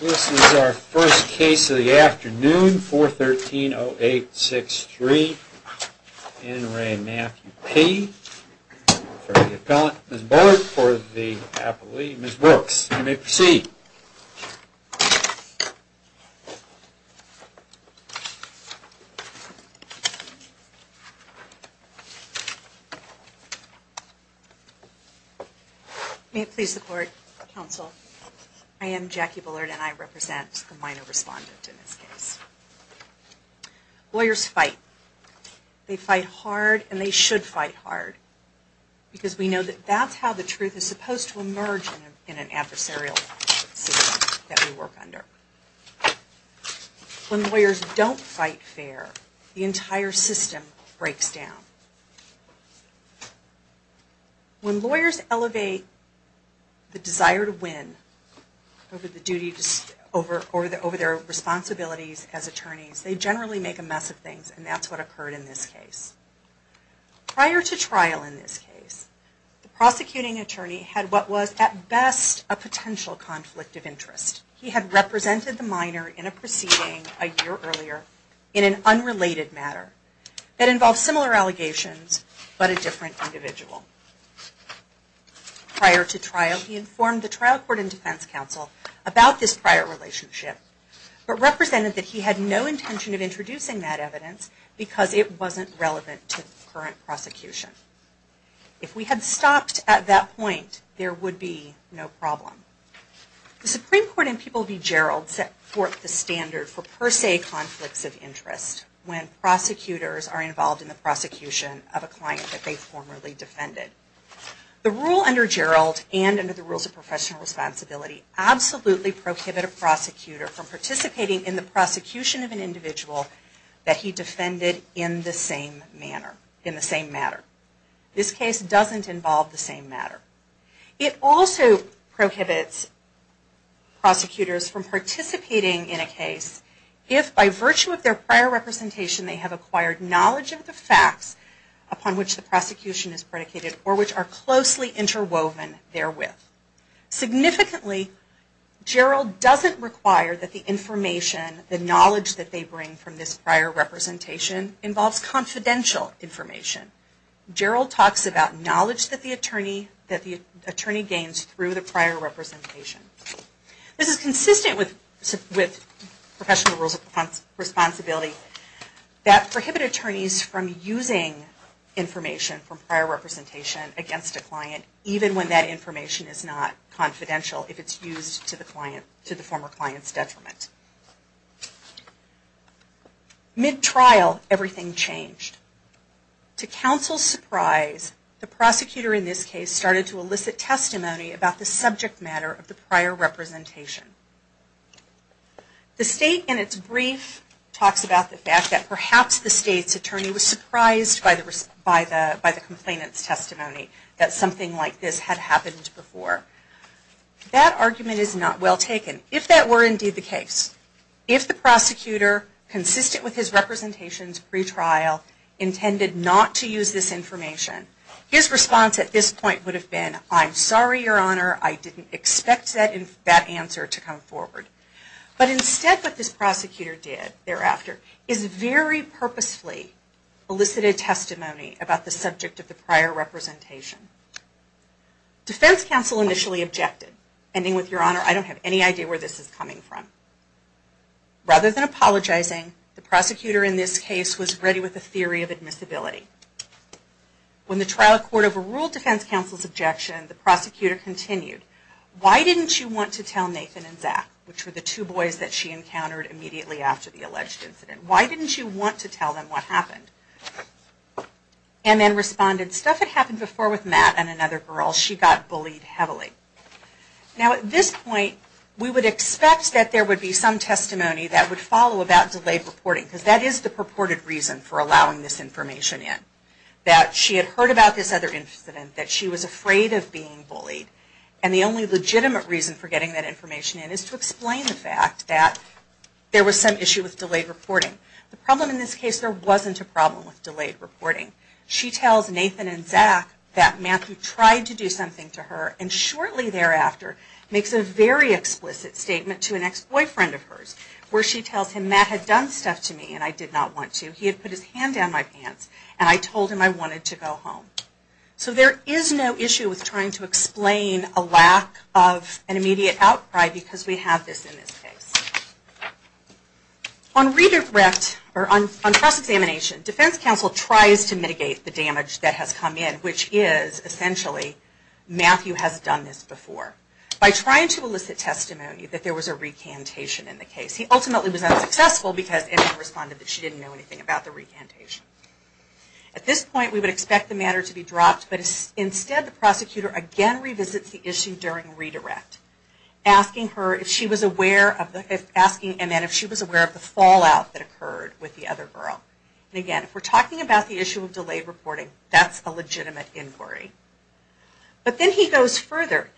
This is our first case of the afternoon, 413-0863, N. Ray Matthew P. for the appellant, Ms. Bullard for the appellee, Ms. Brooks. You may proceed. May it please the court, counsel, I am Jackie Bullard and I represent the minor respondent in this case. Lawyers fight. They fight hard and they should fight hard. Because we know that that's how the truth is supposed to emerge in an adversarial system that we work under. When lawyers don't fight fair, the entire system breaks down. When lawyers elevate the desire to win over their responsibilities as attorneys, they generally make a mess of things and that's what occurred in this case. Prior to trial in this case, the prosecuting attorney had what was at best a potential conflict of interest. He had represented the minor in a proceeding a year earlier in an unrelated matter that involved similar allegations but a different individual. Prior to trial, he informed the trial court and defense counsel about this prior relationship but represented that he had no intention of introducing that evidence because it wasn't relevant to the current prosecution. If we had stopped at that point, there would be no problem. The Supreme Court in People v. Gerald set forth the standard for per se conflicts of interest when prosecutors are involved in the prosecution of a client that they formerly defended. The rule under Gerald and under the Rules of Professional Responsibility absolutely prohibit a prosecutor from participating in the prosecution of an individual that he defended in the same matter. This case doesn't involve the same matter. It also prohibits prosecutors from participating in a case if, by virtue of their prior representation, they have acquired knowledge of the facts upon which the prosecution is predicated or which are closely interwoven therewith. Significantly, Gerald doesn't require that the information, the knowledge that they bring from this prior representation involves confidential information. Gerald talks about knowledge that the attorney gains through the prior representation. This is consistent with Professional Rules of Responsibility that prohibit attorneys from using information from prior representation against a client, even when that information is not confidential if it's used to the former client's detriment. Mid-trial, everything changed. To counsel's surprise, the prosecutor in this case started to elicit testimony about the subject matter of the prior representation. The State, in its brief, talks about the fact that perhaps the State's attorney was surprised by the complainant's testimony that something like this had happened before. That argument is not well taken. If that were indeed the case, if the prosecutor, consistent with his representations pre-trial, intended not to use this information, his response at this point would have been, I'm sorry, Your Honor, I didn't expect that answer to come forward. But instead, what this prosecutor did thereafter is very purposefully elicit a testimony about the subject of the prior representation. Defense counsel initially objected, ending with, Your Honor, I don't have any idea where this is coming from. Rather than apologizing, the prosecutor in this case was ready with a theory of admissibility. When the trial court overruled defense counsel's objection, the prosecutor continued, Why didn't you want to tell Nathan and Zach, which were the two boys that she encountered immediately after the alleged incident, why didn't you want to tell them what happened? And then responded, Stuff had happened before with Matt and another girl. She got bullied heavily. Now at this point, we would expect that there would be some testimony that would follow about delayed reporting. Because that is the purported reason for allowing this information in. That she had heard about this other incident, that she was afraid of being bullied. And the only legitimate reason for getting that information in is to explain the fact that there was some issue with delayed reporting. The problem in this case, there wasn't a problem with delayed reporting. She tells Nathan and Zach that Matthew tried to do something to her and shortly thereafter, makes a very explicit statement to an ex-boyfriend of hers where she tells him Matt had done stuff to me and I did not want to. He had put his hand down my pants and I told him I wanted to go home. So there is no issue with trying to explain a lack of an immediate outcry because we have this in this case. On redirect, or on cross-examination, defense counsel tries to mitigate the damage that has come in. Which is essentially, Matthew has done this before. By trying to elicit testimony that there was a recantation in the case. He ultimately was unsuccessful because Nathan responded that she didn't know anything about the recantation. At this point, we would expect the matter to be dropped, but instead the prosecutor again revisits the issue during redirect. Asking her if she was aware of the fallout that occurred with the other girl. Again, if we are talking about the issue of delayed reporting, that is a legitimate inquiry. But then he goes further.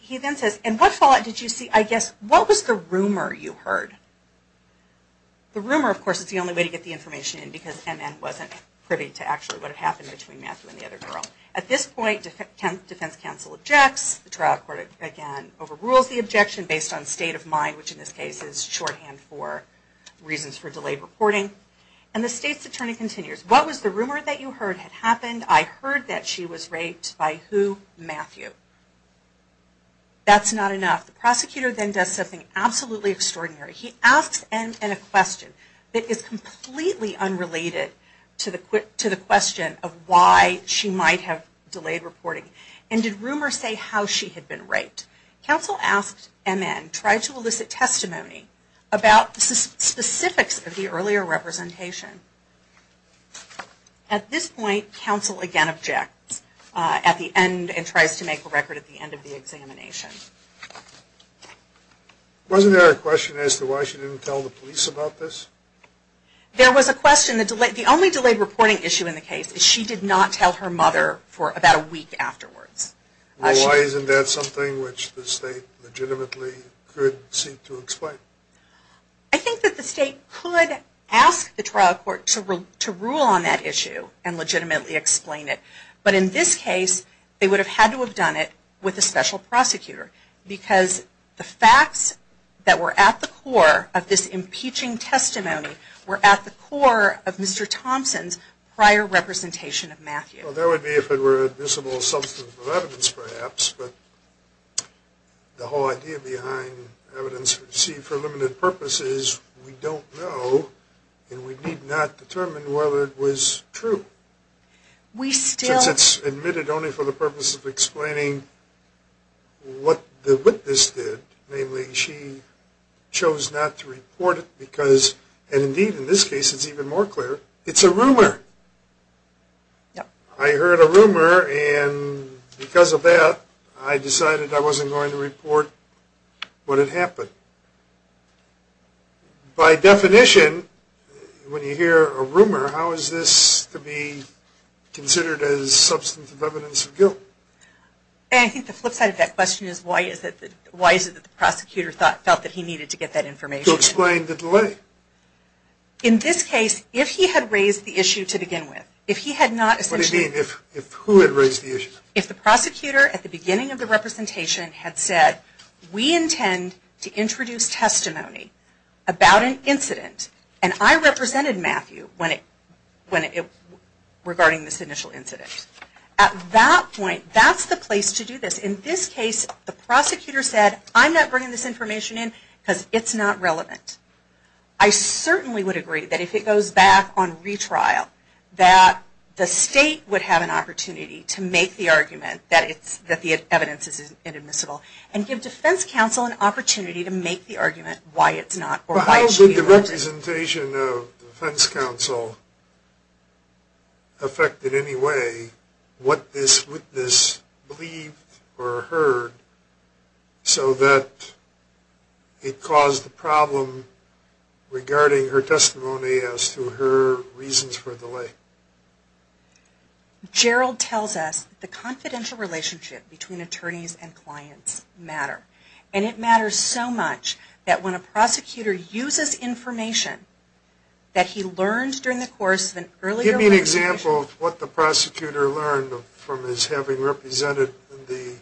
He then says, and what fallout did you see? I guess, what was the rumor you heard? The rumor, of course, is the only way to get the information in because NN wasn't privy to actually what had happened between Matthew and the other girl. At this point, defense counsel objects. The trial court again overrules the objection based on state of mind, which in this case is shorthand for reasons for delayed reporting. And the state's attorney continues. What was the rumor that you heard had happened? I heard that she was raped by who? Matthew. That's not enough. The prosecutor then does something absolutely extraordinary. He asks NN a question that is completely unrelated to the question of why she might have delayed reporting. And did rumor say how she had been raped? Counsel asks NN, try to elicit testimony about the specifics of the earlier representation. At this point, counsel again objects at the end and tries to make a record at the end of the examination. Wasn't there a question as to why she didn't tell the police about this? There was a question. The only delayed reporting issue in the case is she did not tell her mother for about a week afterwards. Why isn't that something which the state legitimately could seek to explain? I think that the state could ask the trial court to rule on that issue and legitimately explain it. But in this case, they would have had to have done it with a special prosecutor. Because the facts that were at the core of this impeaching testimony were at the core of Mr. Thompson's prior representation of Matthew. Well, that would be if it were a visible substance of evidence, perhaps. But the whole idea behind evidence received for limited purposes, we don't know. And we need not determine whether it was true. Since it's admitted only for the purpose of explaining what the witness did, namely she chose not to report it because, and indeed in this case it's even more clear, it's a rumor. I heard a rumor and because of that, I decided I wasn't going to report what had happened. By definition, when you hear a rumor, how is this to be considered as substance of evidence of guilt? And I think the flip side of that question is why is it that the prosecutor felt that he needed to get that information? To explain the delay. In this case, if he had raised the issue to begin with, if he had not essentially... What do you mean, if who had raised the issue? If the prosecutor at the beginning of the representation had said, we intend to introduce testimony about an incident, and I represented Matthew regarding this initial incident. At that point, that's the place to do this. In this case, the prosecutor said, I'm not bringing this information in because it's not relevant. I certainly would agree that if it goes back on retrial, that the state would have an opportunity to make the argument that the evidence is inadmissible, and give defense counsel an opportunity to make the argument why it's not. How did the representation of defense counsel affect in any way what this witness believed or heard, so that it caused the problem regarding her testimony as to her reasons for delay? Gerald tells us the confidential relationship between attorneys and clients matter. And it matters so much that when a prosecutor uses information that he learned during the course of an earlier... Give me an example of what the prosecutor learned from his having represented the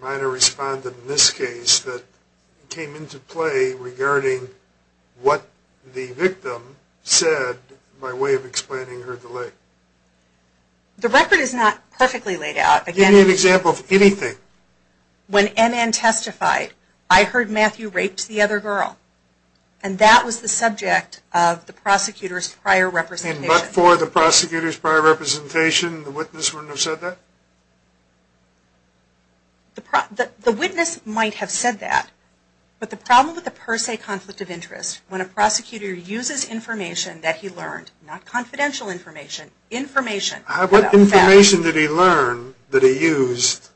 minor respondent in this case that came into play regarding what the victim said by way of explaining her delay. The record is not perfectly laid out. Give me an example of anything. When NN testified, I heard Matthew raped the other girl. And that was the subject of the prosecutor's prior representation. And but for the prosecutor's prior representation, the witness wouldn't have said that? The witness might have said that, but the problem with the per se conflict of interest, when a prosecutor uses information that he learned, not confidential information, information... What information did he learn that he used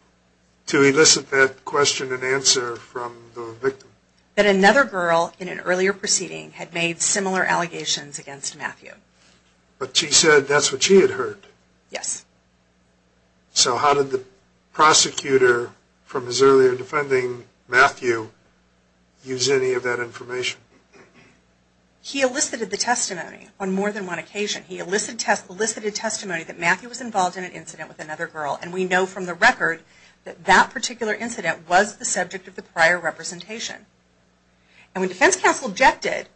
to elicit that question and answer from the victim? That another girl in an earlier proceeding had made similar allegations against Matthew. But she said that's what she had heard? Yes. So how did the prosecutor, from his earlier defending Matthew, use any of that information? He elicited the testimony on more than one occasion. He elicited testimony that Matthew was involved in an incident with another girl. And we know from the record that that particular incident was the subject of the prior representation. And when defense counsel objected,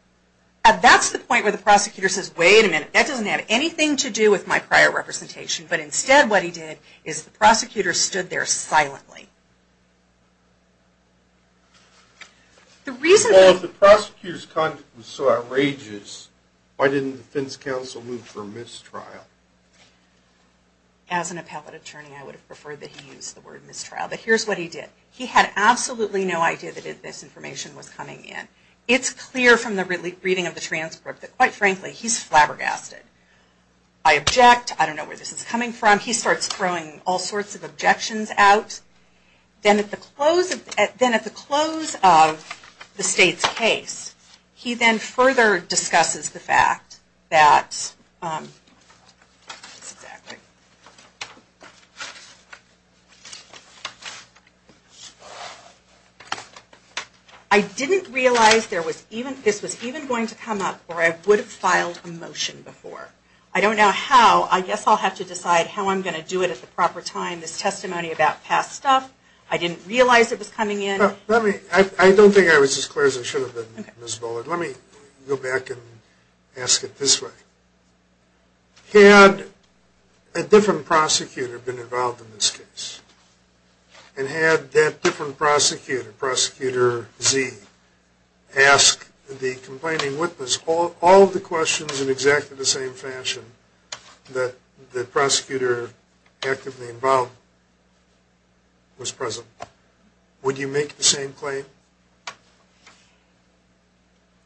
that's the point where the prosecutor says, wait a minute, that doesn't have anything to do with my prior representation. But instead what he did is the prosecutor stood there silently. The reason... Well, if the prosecutor's content was so outrageous, why didn't the defense counsel move for mistrial? As an appellate attorney, I would have preferred that he use the word mistrial. But here's what he did. He had absolutely no idea that this information was coming in. It's clear from the reading of the transcript that, quite frankly, he's flabbergasted. I object. I don't know where this is coming from. He starts throwing all sorts of objections out. Then at the close of the state's case, he then further discusses the fact that... I didn't realize this was even going to come up or I would have filed a motion before. I don't know how. I guess I'll have to decide how I'm going to do it at the proper time. This testimony about past stuff, I didn't realize it was coming in. I don't think I was as clear as I should have been, Ms. Bullard. Let me go back and ask it this way. Had a different prosecutor been involved in this case? And had that different prosecutor, Prosecutor Z, ask the complaining witness all of the questions in exactly the same fashion that the prosecutor actively involved was present, would you make the same claim?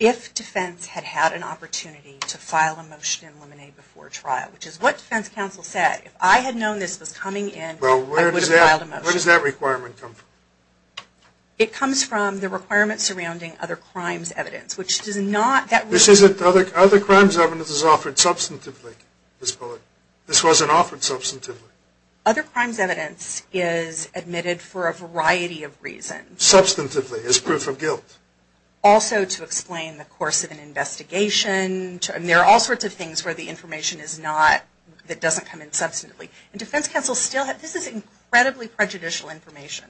If defense had had an opportunity to file a motion and eliminate before trial, which is what defense counsel said, if I had known this was coming in, I would have filed a motion. Where does that requirement come from? It comes from the requirement surrounding other crimes evidence, which does not... Other crimes evidence is offered substantively, Ms. Bullard. This wasn't offered substantively. Other crimes evidence is admitted for a variety of reasons. Substantively, as proof of guilt. Also to explain the course of an investigation. There are all sorts of things where the information is not... that doesn't come in substantively. And defense counsel still... this is incredibly prejudicial information.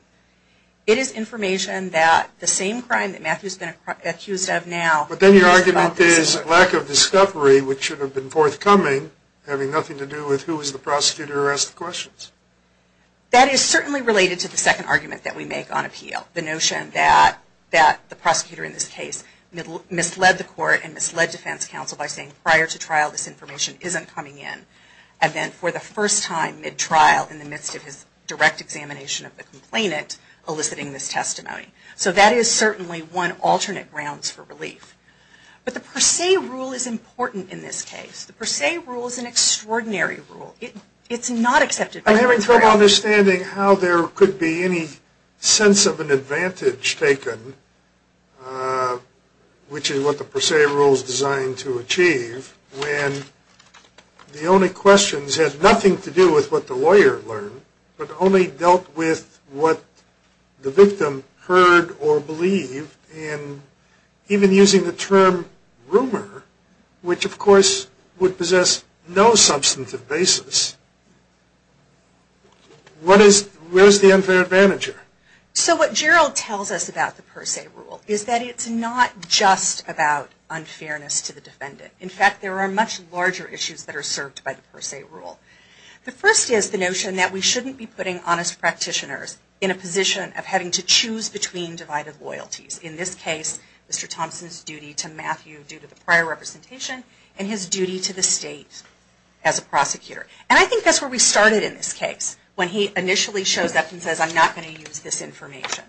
It is information that the same crime that Matthew's been accused of now... But then your argument is lack of discovery, which should have been forthcoming, having nothing to do with who was the prosecutor who asked the questions. That is certainly related to the second argument that we make on appeal. The notion that the prosecutor in this case misled the court and misled defense counsel by saying prior to trial this information isn't coming in. And then for the first time mid-trial in the midst of his direct examination of the complainant eliciting this testimony. So that is certainly one alternate grounds for relief. But the per se rule is important in this case. The per se rule is an extraordinary rule. It's not accepted by... I'm having trouble understanding how there could be any sense of an advantage taken, which is what the per se rule is designed to achieve, when the only questions have nothing to do with what the lawyer learned, but only dealt with what the victim heard or believed. And even using the term rumor, which of course would possess no substantive basis, where's the unfair advantage here? So what Gerald tells us about the per se rule is that it's not just about unfairness to the defendant. In fact, there are much larger issues that are served by the per se rule. The first is the notion that we shouldn't be putting honest practitioners in a position of having to choose between divided loyalties. In this case, Mr. Thompson's duty to Matthew due to the prior representation and his duty to the state as a prosecutor. And I think that's where we started in this case, when he initially shows up and says, I'm not going to use this information.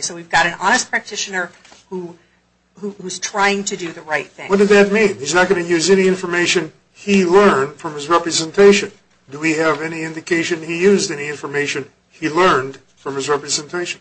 So we've got an honest practitioner who's trying to do the right thing. What does that mean? He's not going to use any information he learned from his representation. Do we have any indication he used any information he learned from his representation?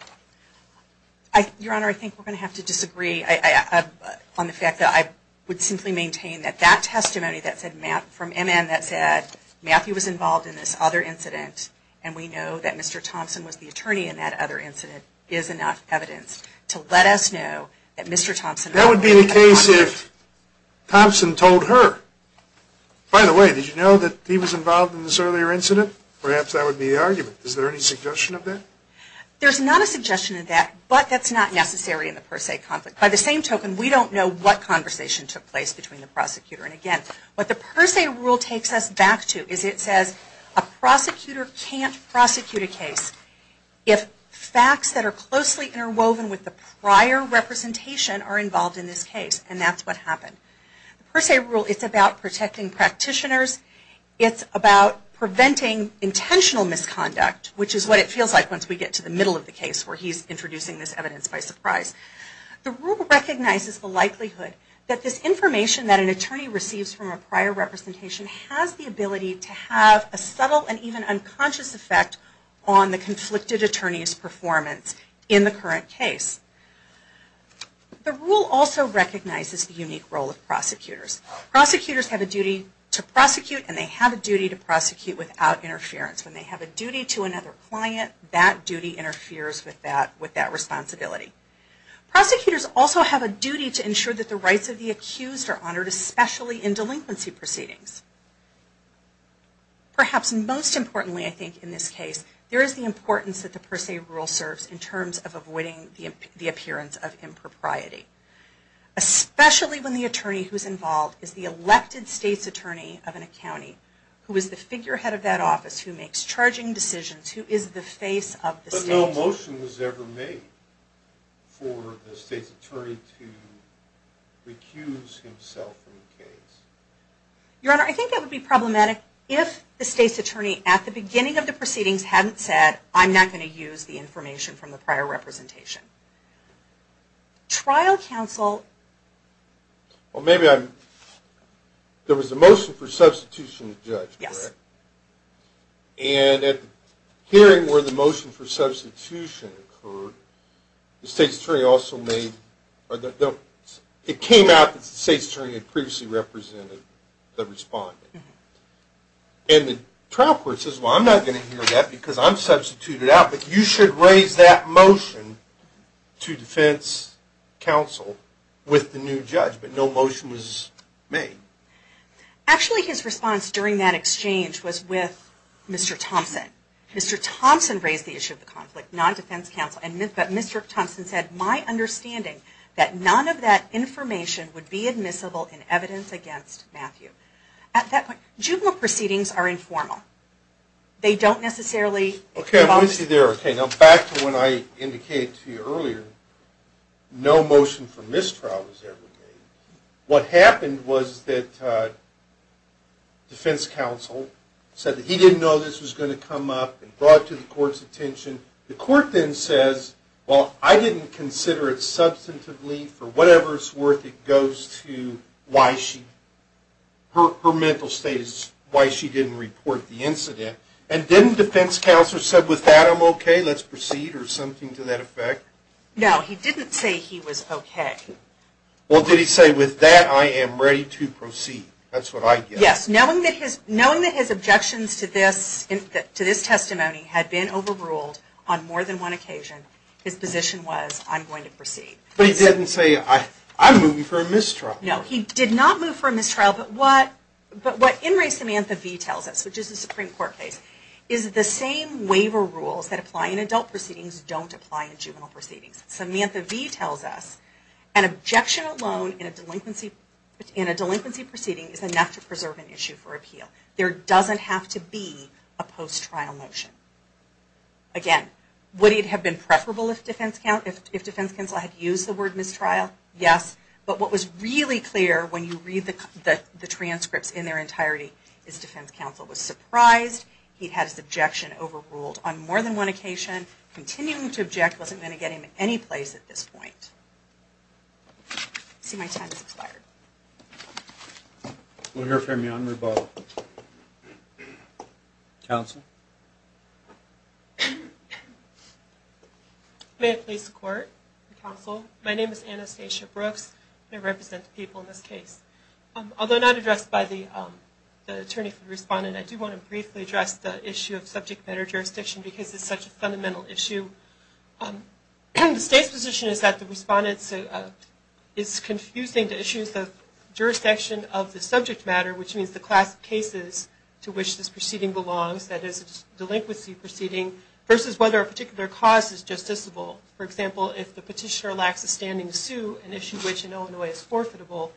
Your Honor, I think we're going to have to disagree on the fact that I would simply maintain that that testimony from MN that said Matthew was involved in this other incident, and we know that Mr. Thompson was the attorney in that other incident, is enough evidence to let us know that Mr. Thompson... That would be the case if Thompson told her. By the way, did you know that he was involved in this earlier incident? Perhaps that would be the argument. Is there any suggestion of that? There's not a suggestion of that, but that's not necessary in the per se conflict. By the same token, we don't know what conversation took place between the prosecutor. And again, what the per se rule takes us back to is it says a prosecutor can't prosecute a case if facts that are closely interwoven with the prior representation are involved in this case, and that's what happened. The per se rule is about protecting practitioners. It's about preventing intentional misconduct, which is what it feels like once we get to the middle of the case where he's introducing this evidence by surprise. The rule recognizes the likelihood that this information that an attorney receives from a prior representation has the ability to have a subtle and even unconscious effect on the conflicted attorney's performance in the current case. The rule also recognizes the unique role of prosecutors. Prosecutors have a duty to prosecute, and they have a duty to prosecute without interference. When they have a duty to another client, that duty interferes with that responsibility. Prosecutors also have a duty to ensure that the rights of the accused are honored, especially in delinquency proceedings. Perhaps most importantly, I think, in this case, there is the importance that the per se rule serves in terms of avoiding the appearance of impropriety, especially when the attorney who's involved is the elected state's attorney of a county who is the figurehead of that office, who makes charging decisions, who is the face of the state. But no motion was ever made for the state's attorney to recuse himself from the case. Your Honor, I think that would be problematic if the state's attorney, at the beginning of the proceedings, hadn't said, I'm not going to use the information from the prior representation. Trial counsel... Well, maybe I'm... There was a motion for substitution of judge, correct? Yes. And at the hearing where the motion for substitution occurred, the state's attorney also made... It came out that the state's attorney had previously represented the respondent. And the trial court says, well, I'm not going to hear that because I'm substituted out, but you should raise that motion to defense counsel with the new judge. But no motion was made. Actually, his response during that exchange was with Mr. Thompson. Mr. Thompson raised the issue of the conflict, not defense counsel. But Mr. Thompson said, my understanding, that none of that information would be admissible in evidence against Matthew. At that point, juvenile proceedings are informal. They don't necessarily... Okay, let me see there. Okay, now back to when I indicated to you earlier, no motion for mistrial was ever made. What happened was that defense counsel said that he didn't know this was going to come up and brought it to the court's attention. The court then says, well, I didn't consider it substantively. For whatever it's worth, it goes to why she... Her mental state is why she didn't report the incident. And then defense counsel said, with that, I'm okay. Let's proceed, or something to that effect. No, he didn't say he was okay. Well, did he say, with that, I am ready to proceed? That's what I get. Yes, knowing that his objections to this testimony had been overruled on more than one occasion, his position was, I'm going to proceed. But he didn't say, I'm moving for a mistrial. No, he did not move for a mistrial. But what In Re. Samantha V. tells us, which is the Supreme Court case, is the same waiver rules that apply in adult proceedings don't apply in juvenile proceedings. Samantha V. tells us, an objection alone in a delinquency proceeding is enough to preserve an issue for appeal. There doesn't have to be a post-trial motion. Again, would it have been preferable if defense counsel had used the word mistrial? Yes. But what was really clear when you read the transcripts in their entirety, is defense counsel was surprised he had his objection overruled on more than one occasion. Continuing to object wasn't going to get him any place at this point. I see my time has expired. We'll hear from you on rebuttal. Counsel? May it please the Court and counsel, my name is Anastasia Brooks, and I represent the people in this case. Although not addressed by the attorney for the respondent, I do want to briefly address the issue of subject matter jurisdiction because it's such a fundamental issue. The state's position is that the respondent is confusing the issues of jurisdiction of the subject matter, which means the class of cases to which this proceeding belongs, that is a delinquency proceeding, versus whether a particular cause is justiciable. For example, if the petitioner lacks a standing to sue, an issue which in Illinois is forfeitable.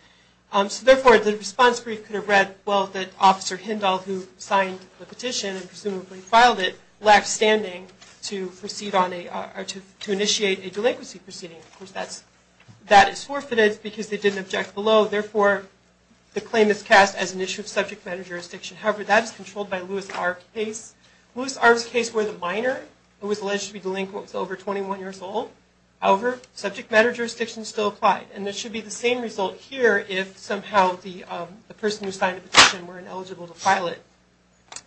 So therefore, the response brief could have read, well, that Officer Hindall, who signed the petition and presumably filed it, lacks standing to initiate a delinquency proceeding. Of course, that is forfeited because they didn't object below. Therefore, the claim is cast as an issue of subject matter jurisdiction. However, that is controlled by Lewis Arv's case. Lewis Arv's case, where the minor who was alleged to be delinquent was over 21 years old, however, subject matter jurisdiction still applied. And it should be the same result here if somehow the person who signed the petition were ineligible to file it.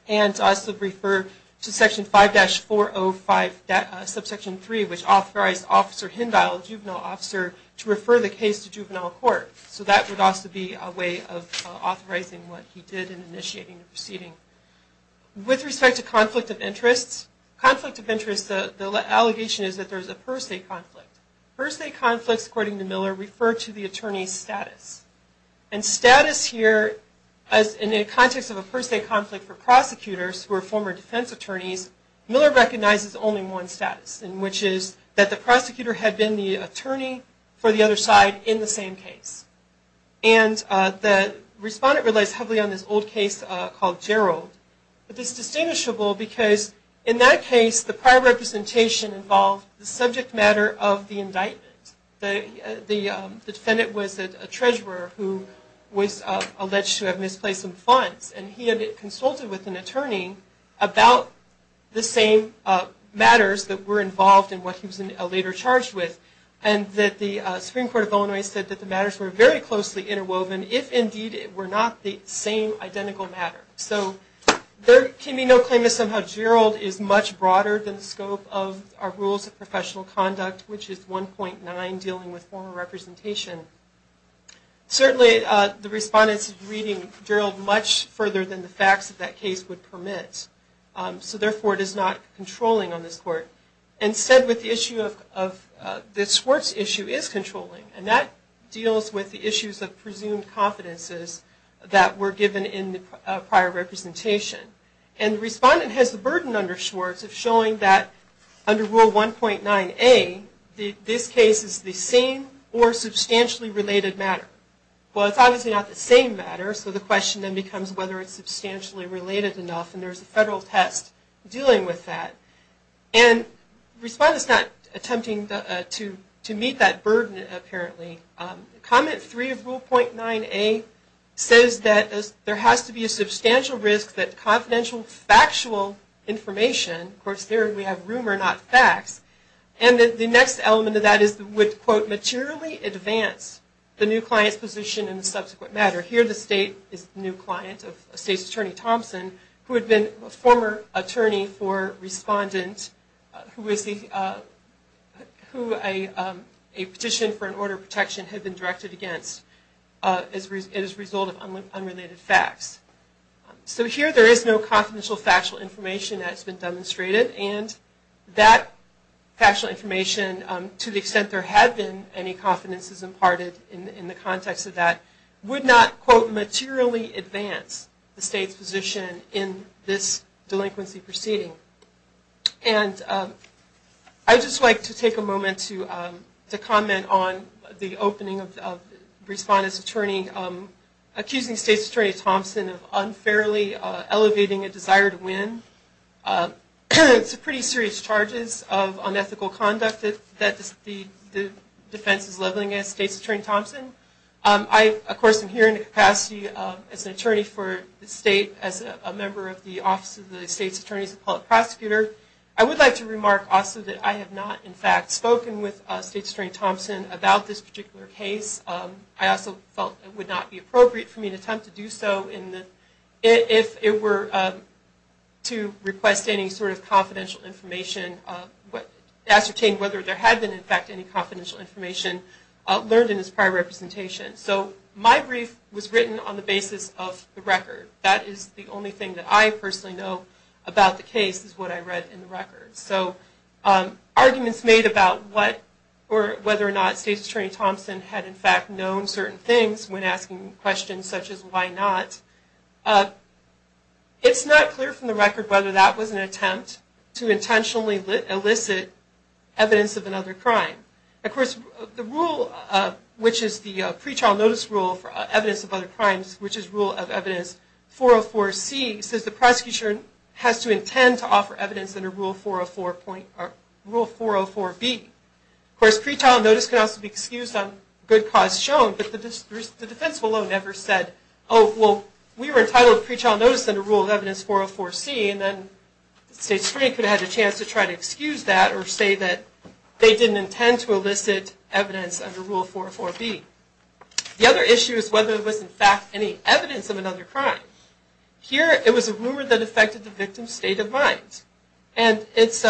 And to also refer to section 5-405, subsection 3, which authorized Officer Hindall, the juvenile officer, to refer the case to juvenile court. So that would also be a way of authorizing what he did in initiating the proceeding. With respect to conflict of interest, the allegation is that there is a per se conflict. Per se conflicts, according to Miller, refer to the attorney's status. And status here, in the context of a per se conflict for prosecutors who are former defense attorneys, Miller recognizes only one status, which is that the prosecutor had been the attorney for the other side in the same case. And the respondent relies heavily on this old case called Gerald. But this is distinguishable because in that case, the prior representation involved the subject matter of the indictment. The defendant was a treasurer who was alleged to have misplaced some funds. And he had consulted with an attorney about the same matters that were involved in what he was later charged with. And the Supreme Court of Illinois said that the matters were very closely interwoven, if indeed it were not the same identical matter. So there can be no claim that somehow Gerald is much broader than the scope of our rules of professional conduct, which is 1.9, dealing with former representation. Certainly, the respondent is reading Gerald much further than the facts that that case would permit. So therefore, it is not controlling on this court. Instead, the court's issue is controlling, and that deals with the issues of presumed confidences that were given in the prior representation. And the respondent has the burden under Schwartz of showing that under Rule 1.9a, this case is the same or substantially related matter. Well, it's obviously not the same matter, so the question then becomes whether it's substantially related enough, and there's a federal test dealing with that. And the respondent is not attempting to meet that burden, apparently. Comment 3 of Rule 1.9a says that there has to be a substantial risk that confidential factual information, of course there we have rumor, not facts, and that the next element of that is would, quote, materially advance the new client's position in the subsequent matter. Here the state is the new client of State's Attorney Thompson, who had been a former attorney for a respondent who a petition for an order of protection had been directed against as a result of unrelated facts. So here there is no confidential factual information that has been demonstrated, and that factual information, to the extent there had been any confidences imparted in the context of that, would not, quote, materially advance the state's position in this delinquency proceeding. And I'd just like to take a moment to comment on the opening of respondent's attorney accusing State's Attorney Thompson of unfairly elevating a desire to win. It's a pretty serious charges of unethical conduct that the defense is leveling against State's Attorney Thompson. I, of course, am here in a capacity as an attorney for the state, as a member of the Office of the State's Attorney's Appellate Prosecutor. I would like to remark also that I have not, in fact, spoken with State's Attorney Thompson about this particular case. I also felt it would not be appropriate for me to attempt to do so if it were to request any sort of confidential information, ascertain whether there had been, in fact, any confidential information learned in this prior representation. So my brief was written on the basis of the record. That is the only thing that I personally know about the case is what I read in the record. So arguments made about whether or not State's Attorney Thompson had, in fact, known certain things when asking questions such as, evidence of another crime. Of course, the rule, which is the pre-trial notice rule for evidence of other crimes, which is Rule of Evidence 404C, says the prosecutor has to intend to offer evidence under Rule 404B. Of course, pre-trial notice can also be excused on good cause shown, but the defense below never said, oh, well, we were entitled to pre-trial notice under Rule of Evidence 404C, and then State's attorney could have had a chance to try to excuse that or say that they didn't intend to elicit evidence under Rule 404B. The other issue is whether there was, in fact, any evidence of another crime. Here, it was a rumor that affected the victim's state of mind. And it's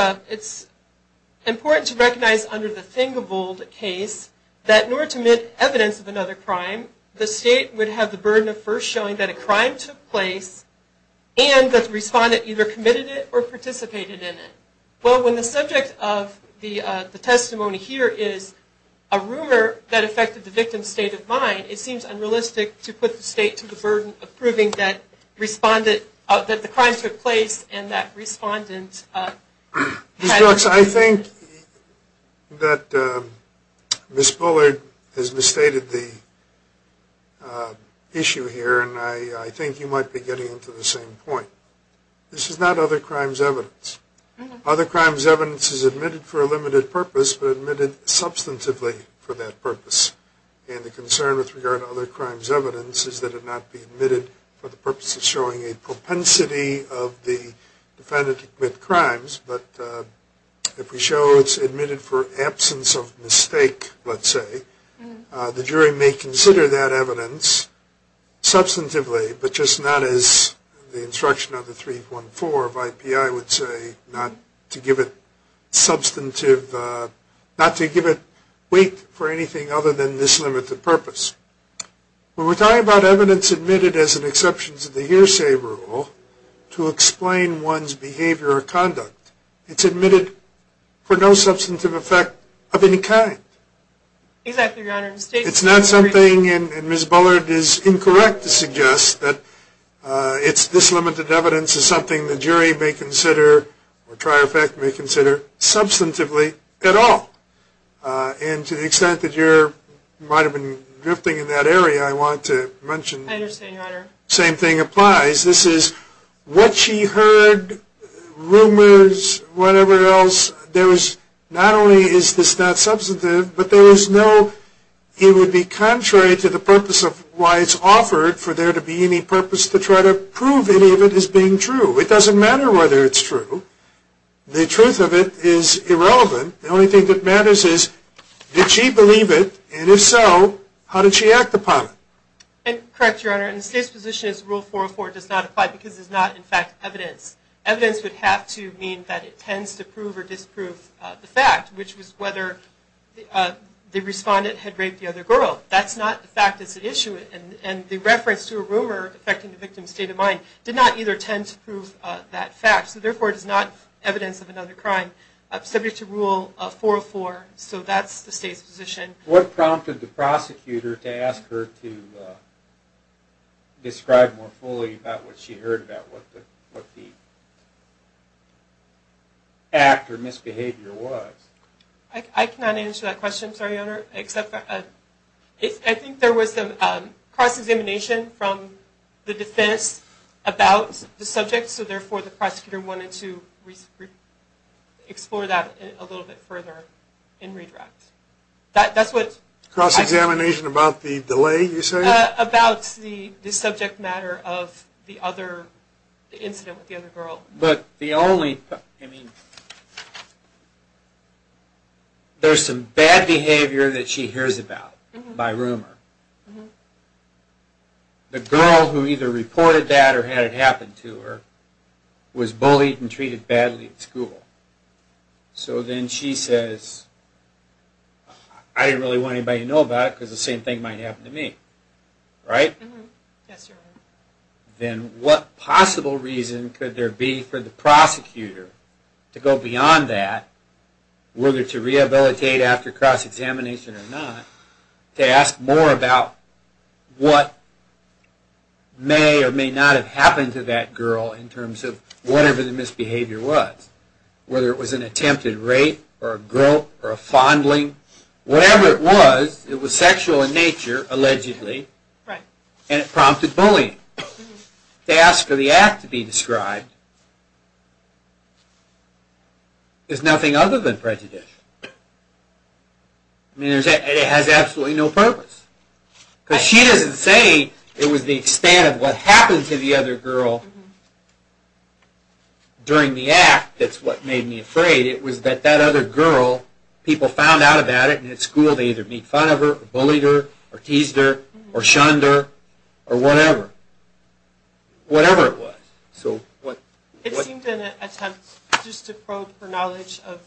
important to recognize under the Thing-A-Vold case that in order to admit evidence of another crime, the State would have the burden of first showing that a crime took place and that the respondent either committed it or participated in it. Well, when the subject of the testimony here is a rumor that affected the victim's state of mind, it seems unrealistic to put the State to the burden of proving that the crime took place and that respondent had committed it. Alex, I think that Ms. Bullard has misstated the issue here, and I think you might be getting to the same point. This is not other crimes evidence. Other crimes evidence is admitted for a limited purpose, but admitted substantively for that purpose. And the concern with regard to other crimes evidence is that it not be admitted for the purpose of showing a propensity of the defendant to commit crimes, but if we show it's admitted for absence of mistake, let's say, the jury may consider that evidence substantively, but just not as the instruction of the 314 of IPI would say, not to give it weight for anything other than this limited purpose. When we're talking about evidence admitted as an exception to the hearsay rule to explain one's behavior or conduct, it's admitted for no substantive effect of any kind. Exactly, Your Honor. It's not something, and Ms. Bullard is incorrect to suggest, that it's this limited evidence is something the jury may consider, or try to affect, may consider substantively at all. And to the extent that you might have been drifting in that area, I wanted to mention. I understand, Your Honor. The same thing applies. This is what she heard, rumors, whatever else. Not only is this not substantive, but it would be contrary to the purpose of why it's offered, for there to be any purpose to try to prove any of it as being true. It doesn't matter whether it's true. The truth of it is irrelevant. The only thing that matters is, did she believe it? And if so, how did she act upon it? Correct, Your Honor. The State's position is Rule 404 does not apply because it's not, in fact, evidence. Evidence would have to mean that it tends to prove or disprove the fact, which was whether the respondent had raped the other girl. That's not the fact that's at issue, and the reference to a rumor affecting the victim's state of mind did not either tend to prove that fact. So therefore, it is not evidence of another crime subject to Rule 404. So that's the State's position. What prompted the prosecutor to ask her to describe more fully about what she heard about, what the act or misbehavior was? I cannot answer that question, sorry, Your Honor. I think there was some cross-examination from the defense about the subject, so therefore, the prosecutor wanted to explore that a little bit further and redirect. That's what... Cross-examination about the delay, you say? About the subject matter of the other incident with the other girl. But the only... There's some bad behavior that she hears about by rumor. The girl who either reported that or had it happen to her was bullied and treated badly at school. So then she says, I didn't really want anybody to know about it because the same thing might happen to me. Right? Yes, Your Honor. Then what possible reason could there be for the prosecutor to go beyond that, whether to rehabilitate after cross-examination or not, to ask more about what may or may not have happened to that girl in terms of whatever the misbehavior was, whether it was an attempted rape or a grope or a fondling. Whatever it was, it was sexual in nature, allegedly, and it prompted bullying. To ask for the act to be described is nothing other than prejudice. I mean, it has absolutely no purpose. Because she doesn't say it was the extent of what happened to the other girl during the act that's what made me afraid. It was that that other girl, people found out about it, and at school they either made fun of her or bullied her or teased her or shunned her or whatever. Whatever it was. It seemed an attempt just to probe her knowledge of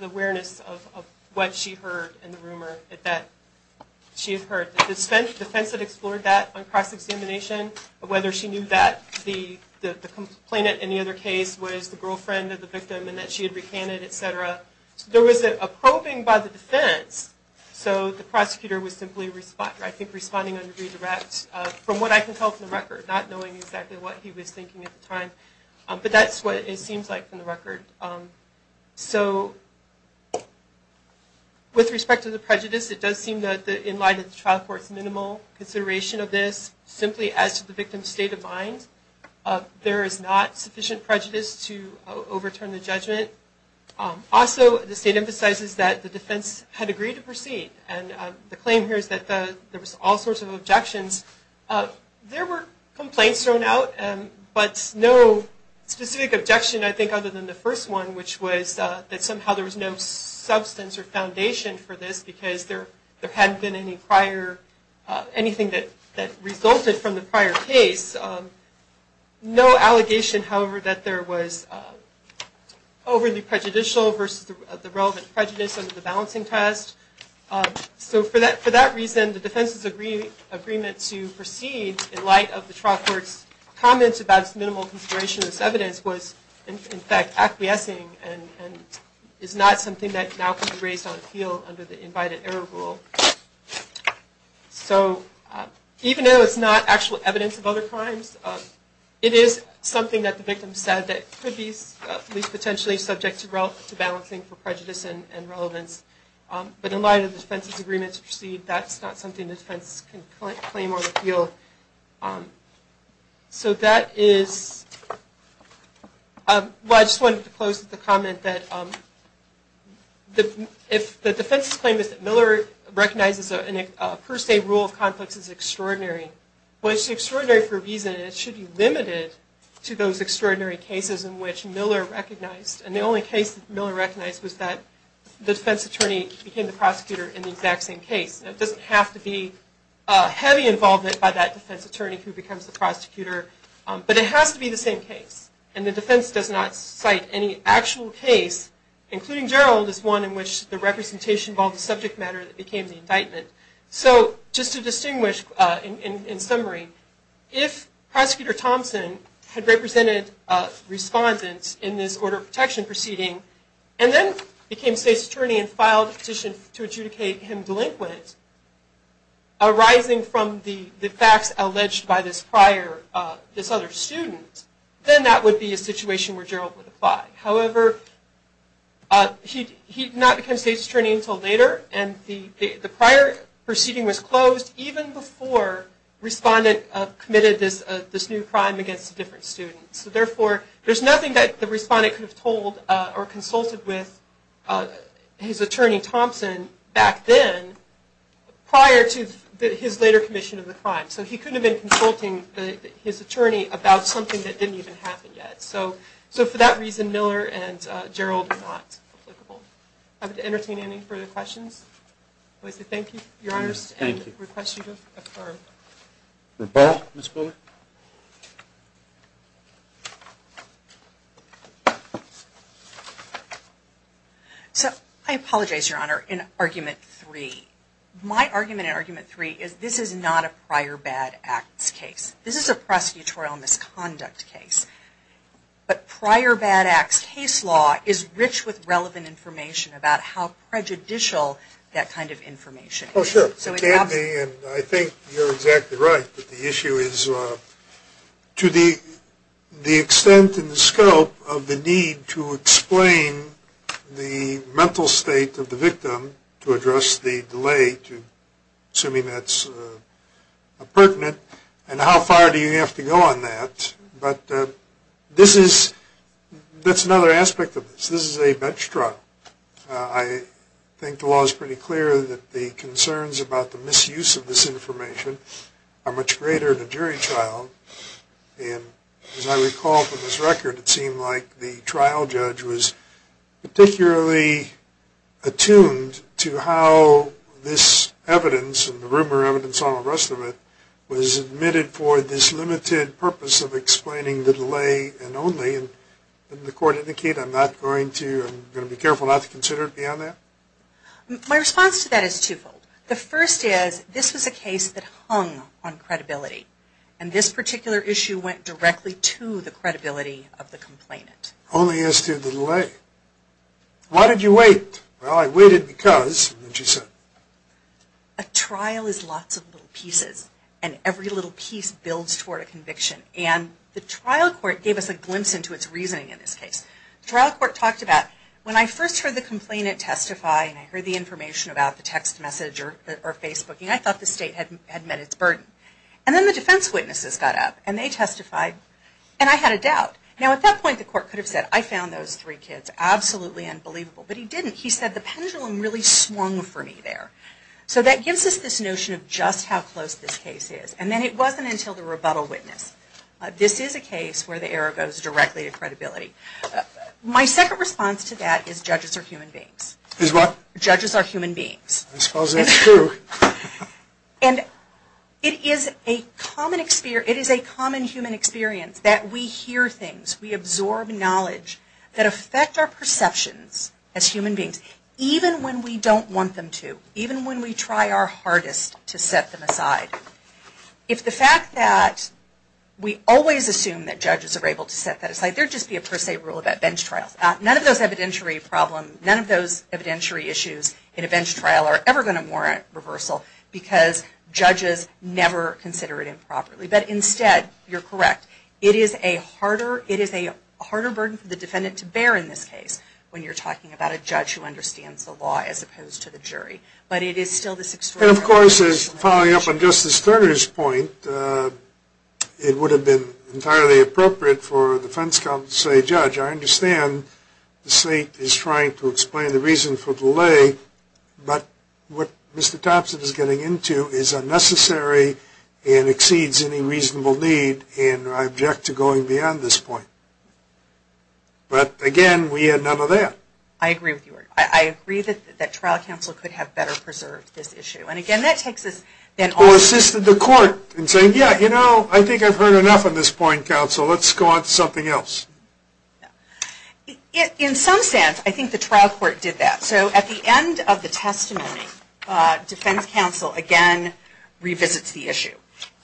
the awareness of what she heard and the rumor that she had heard. The defense had explored that on cross-examination, whether she knew that the complainant in the other case was the girlfriend of the victim and that she had recanted, et cetera. There was a probing by the defense. So the prosecutor was simply responding on a redirect, from what I can tell from the record, not knowing exactly what he was thinking at the time. But that's what it seems like from the record. So with respect to the prejudice, it does seem that in light of the trial court's minimal consideration of this, simply as to the victim's state of mind, there is not sufficient prejudice to overturn the judgment. Also, the state emphasizes that the defense had agreed to proceed. The claim here is that there was all sorts of objections. There were complaints thrown out, but no specific objection, I think, other than the first one, which was that somehow there was no substance or foundation for this because there hadn't been anything that resulted from the prior case. There was no allegation, however, that there was overly prejudicial versus the relevant prejudice under the balancing test. So for that reason, the defense's agreement to proceed in light of the trial court's comments about its minimal consideration of this evidence was, in fact, acquiescing and is not something that now can be raised on appeal under the invited error rule. So even though it's not actual evidence of other crimes, it is something that the victim said that could be at least potentially subject to balancing for prejudice and relevance. But in light of the defense's agreement to proceed, that's not something the defense can claim on appeal. So that is... Well, I just wanted to close with the comment that if the defense's claim is that Miller recognizes a per se rule of conflicts as extraordinary, well, it's extraordinary for a reason, and it should be limited to those extraordinary cases in which Miller recognized. And the only case that Miller recognized was that the defense attorney became the prosecutor in the exact same case. It doesn't have to be heavy involvement by that defense attorney who becomes the prosecutor, but it has to be the same case. And the defense does not cite any actual case, including Gerald, as one in which the representation involved a subject matter that became the indictment. So just to distinguish in summary, if Prosecutor Thompson had represented respondents and filed a petition to adjudicate him delinquent, arising from the facts alleged by this other student, then that would be a situation where Gerald would apply. However, he did not become state's attorney until later, and the prior proceeding was closed even before the respondent committed this new crime against a different student. So therefore, there's nothing that the respondent could have told or consulted with his attorney, Thompson, back then prior to his later commission of the crime. So he couldn't have been consulting his attorney about something that didn't even happen yet. So for that reason, Miller and Gerald are not applicable. I'm happy to entertain any further questions. Thank you, Your Honors. Thank you. So I apologize, Your Honor, in Argument 3. My argument in Argument 3 is this is not a prior bad acts case. This is a prosecutorial misconduct case. But prior bad acts case law is rich with relevant information about how prejudicial that kind of information is. I think you're exactly right. The issue is to the extent and the scope of the need to explain the mental state of the victim to address the delay, assuming that's pertinent, and how far do you have to go on that. But that's another aspect of this. This is a bench trial. I think the law is pretty clear that the concerns about the misuse of this information are much greater in a jury trial. And as I recall from this record, it seemed like the trial judge was particularly attuned to how this evidence and the rumor evidence on the rest of it was admitted for this limited purpose of explaining the delay and only. Didn't the court indicate I'm going to be careful not to consider it beyond that? My response to that is twofold. The first is this was a case that hung on credibility. And this particular issue went directly to the credibility of the complainant. Only as to the delay. Why did you wait? Well, I waited because, as you said. A trial is lots of little pieces. And every little piece builds toward a conviction. And the trial court gave us a glimpse into its reasoning in this case. The trial court talked about when I first heard the complainant testify, and I heard the information about the text message or Facebook, and I thought the state had met its burden. And then the defense witnesses got up and they testified. And I had a doubt. Now at that point the court could have said I found those three kids absolutely unbelievable. But he didn't. He said the pendulum really swung for me there. So that gives us this notion of just how close this case is. And then it wasn't until the rebuttal witness. This is a case where the error goes directly to credibility. My second response to that is judges are human beings. Is what? Judges are human beings. I suppose that's true. And it is a common human experience that we hear things, we absorb knowledge that affect our perceptions as human beings. Even when we don't want them to. Even when we try our hardest to set them aside. If the fact that we always assume that judges are able to set that aside, there would just be a per se rule about bench trials. None of those evidentiary problems, none of those evidentiary issues in a bench trial are ever going to warrant reversal because judges never consider it improperly. But instead, you're correct, it is a harder burden for the defendant to bear in this case when you're talking about a judge who understands the law as opposed to the jury. But it is still this extraordinary issue. And, of course, following up on Justice Turner's point, it would have been entirely appropriate for a defense counsel to say, Judge, I understand the state is trying to explain the reason for delay, but what Mr. Thompson is getting into is unnecessary and exceeds any reasonable need, and I object to going beyond this point. But, again, we had none of that. I agree with you. I agree that trial counsel could have better preserved this issue. And, again, that takes us then on to... Or assisted the court in saying, Yeah, you know, I think I've heard enough of this point, counsel. Let's go on to something else. In some sense, I think the trial court did that. So at the end of the testimony, defense counsel again revisits the issue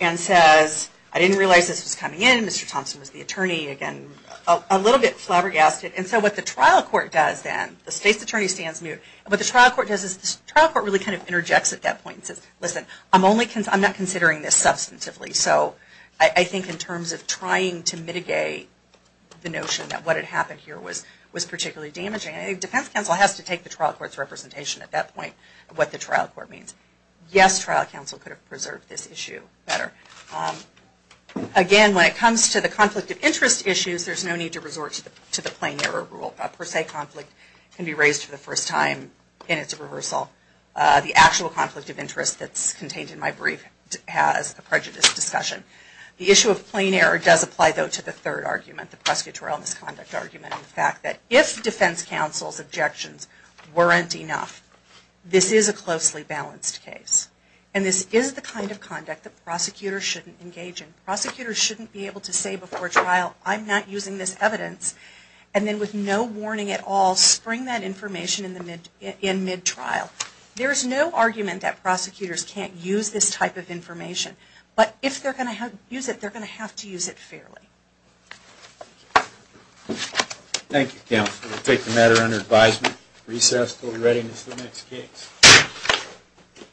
and says, I didn't realize this was coming in. Mr. Thompson was the attorney, again, a little bit flabbergasted. And so what the trial court does then, the state's attorney stands mute, what the trial court does is the trial court really kind of interjects at that point and says, Listen, I'm not considering this substantively. So I think in terms of trying to mitigate the notion that what had happened here was particularly damaging, I think defense counsel has to take the trial court's representation at that point of what the trial court means. Yes, trial counsel could have preserved this issue better. Again, when it comes to the conflict of interest issues, there's no need to resort to the plain error rule. A per se conflict can be raised for the first time and it's a reversal. The actual conflict of interest that's contained in my brief has a prejudice discussion. The issue of plain error does apply, though, to the third argument, the prosecutorial misconduct argument. The fact that if defense counsel's objections weren't enough, this is a closely balanced case. And this is the kind of conduct that prosecutors shouldn't engage in. Prosecutors shouldn't be able to say before trial, I'm not using this evidence, and then with no warning at all spring that information in mid-trial. There's no argument that prosecutors can't use this type of information. But if they're going to use it, they're going to have to use it fairly. Thank you, counsel. We'll take the matter under advisement. Recess until the readiness of the next case. Thank you.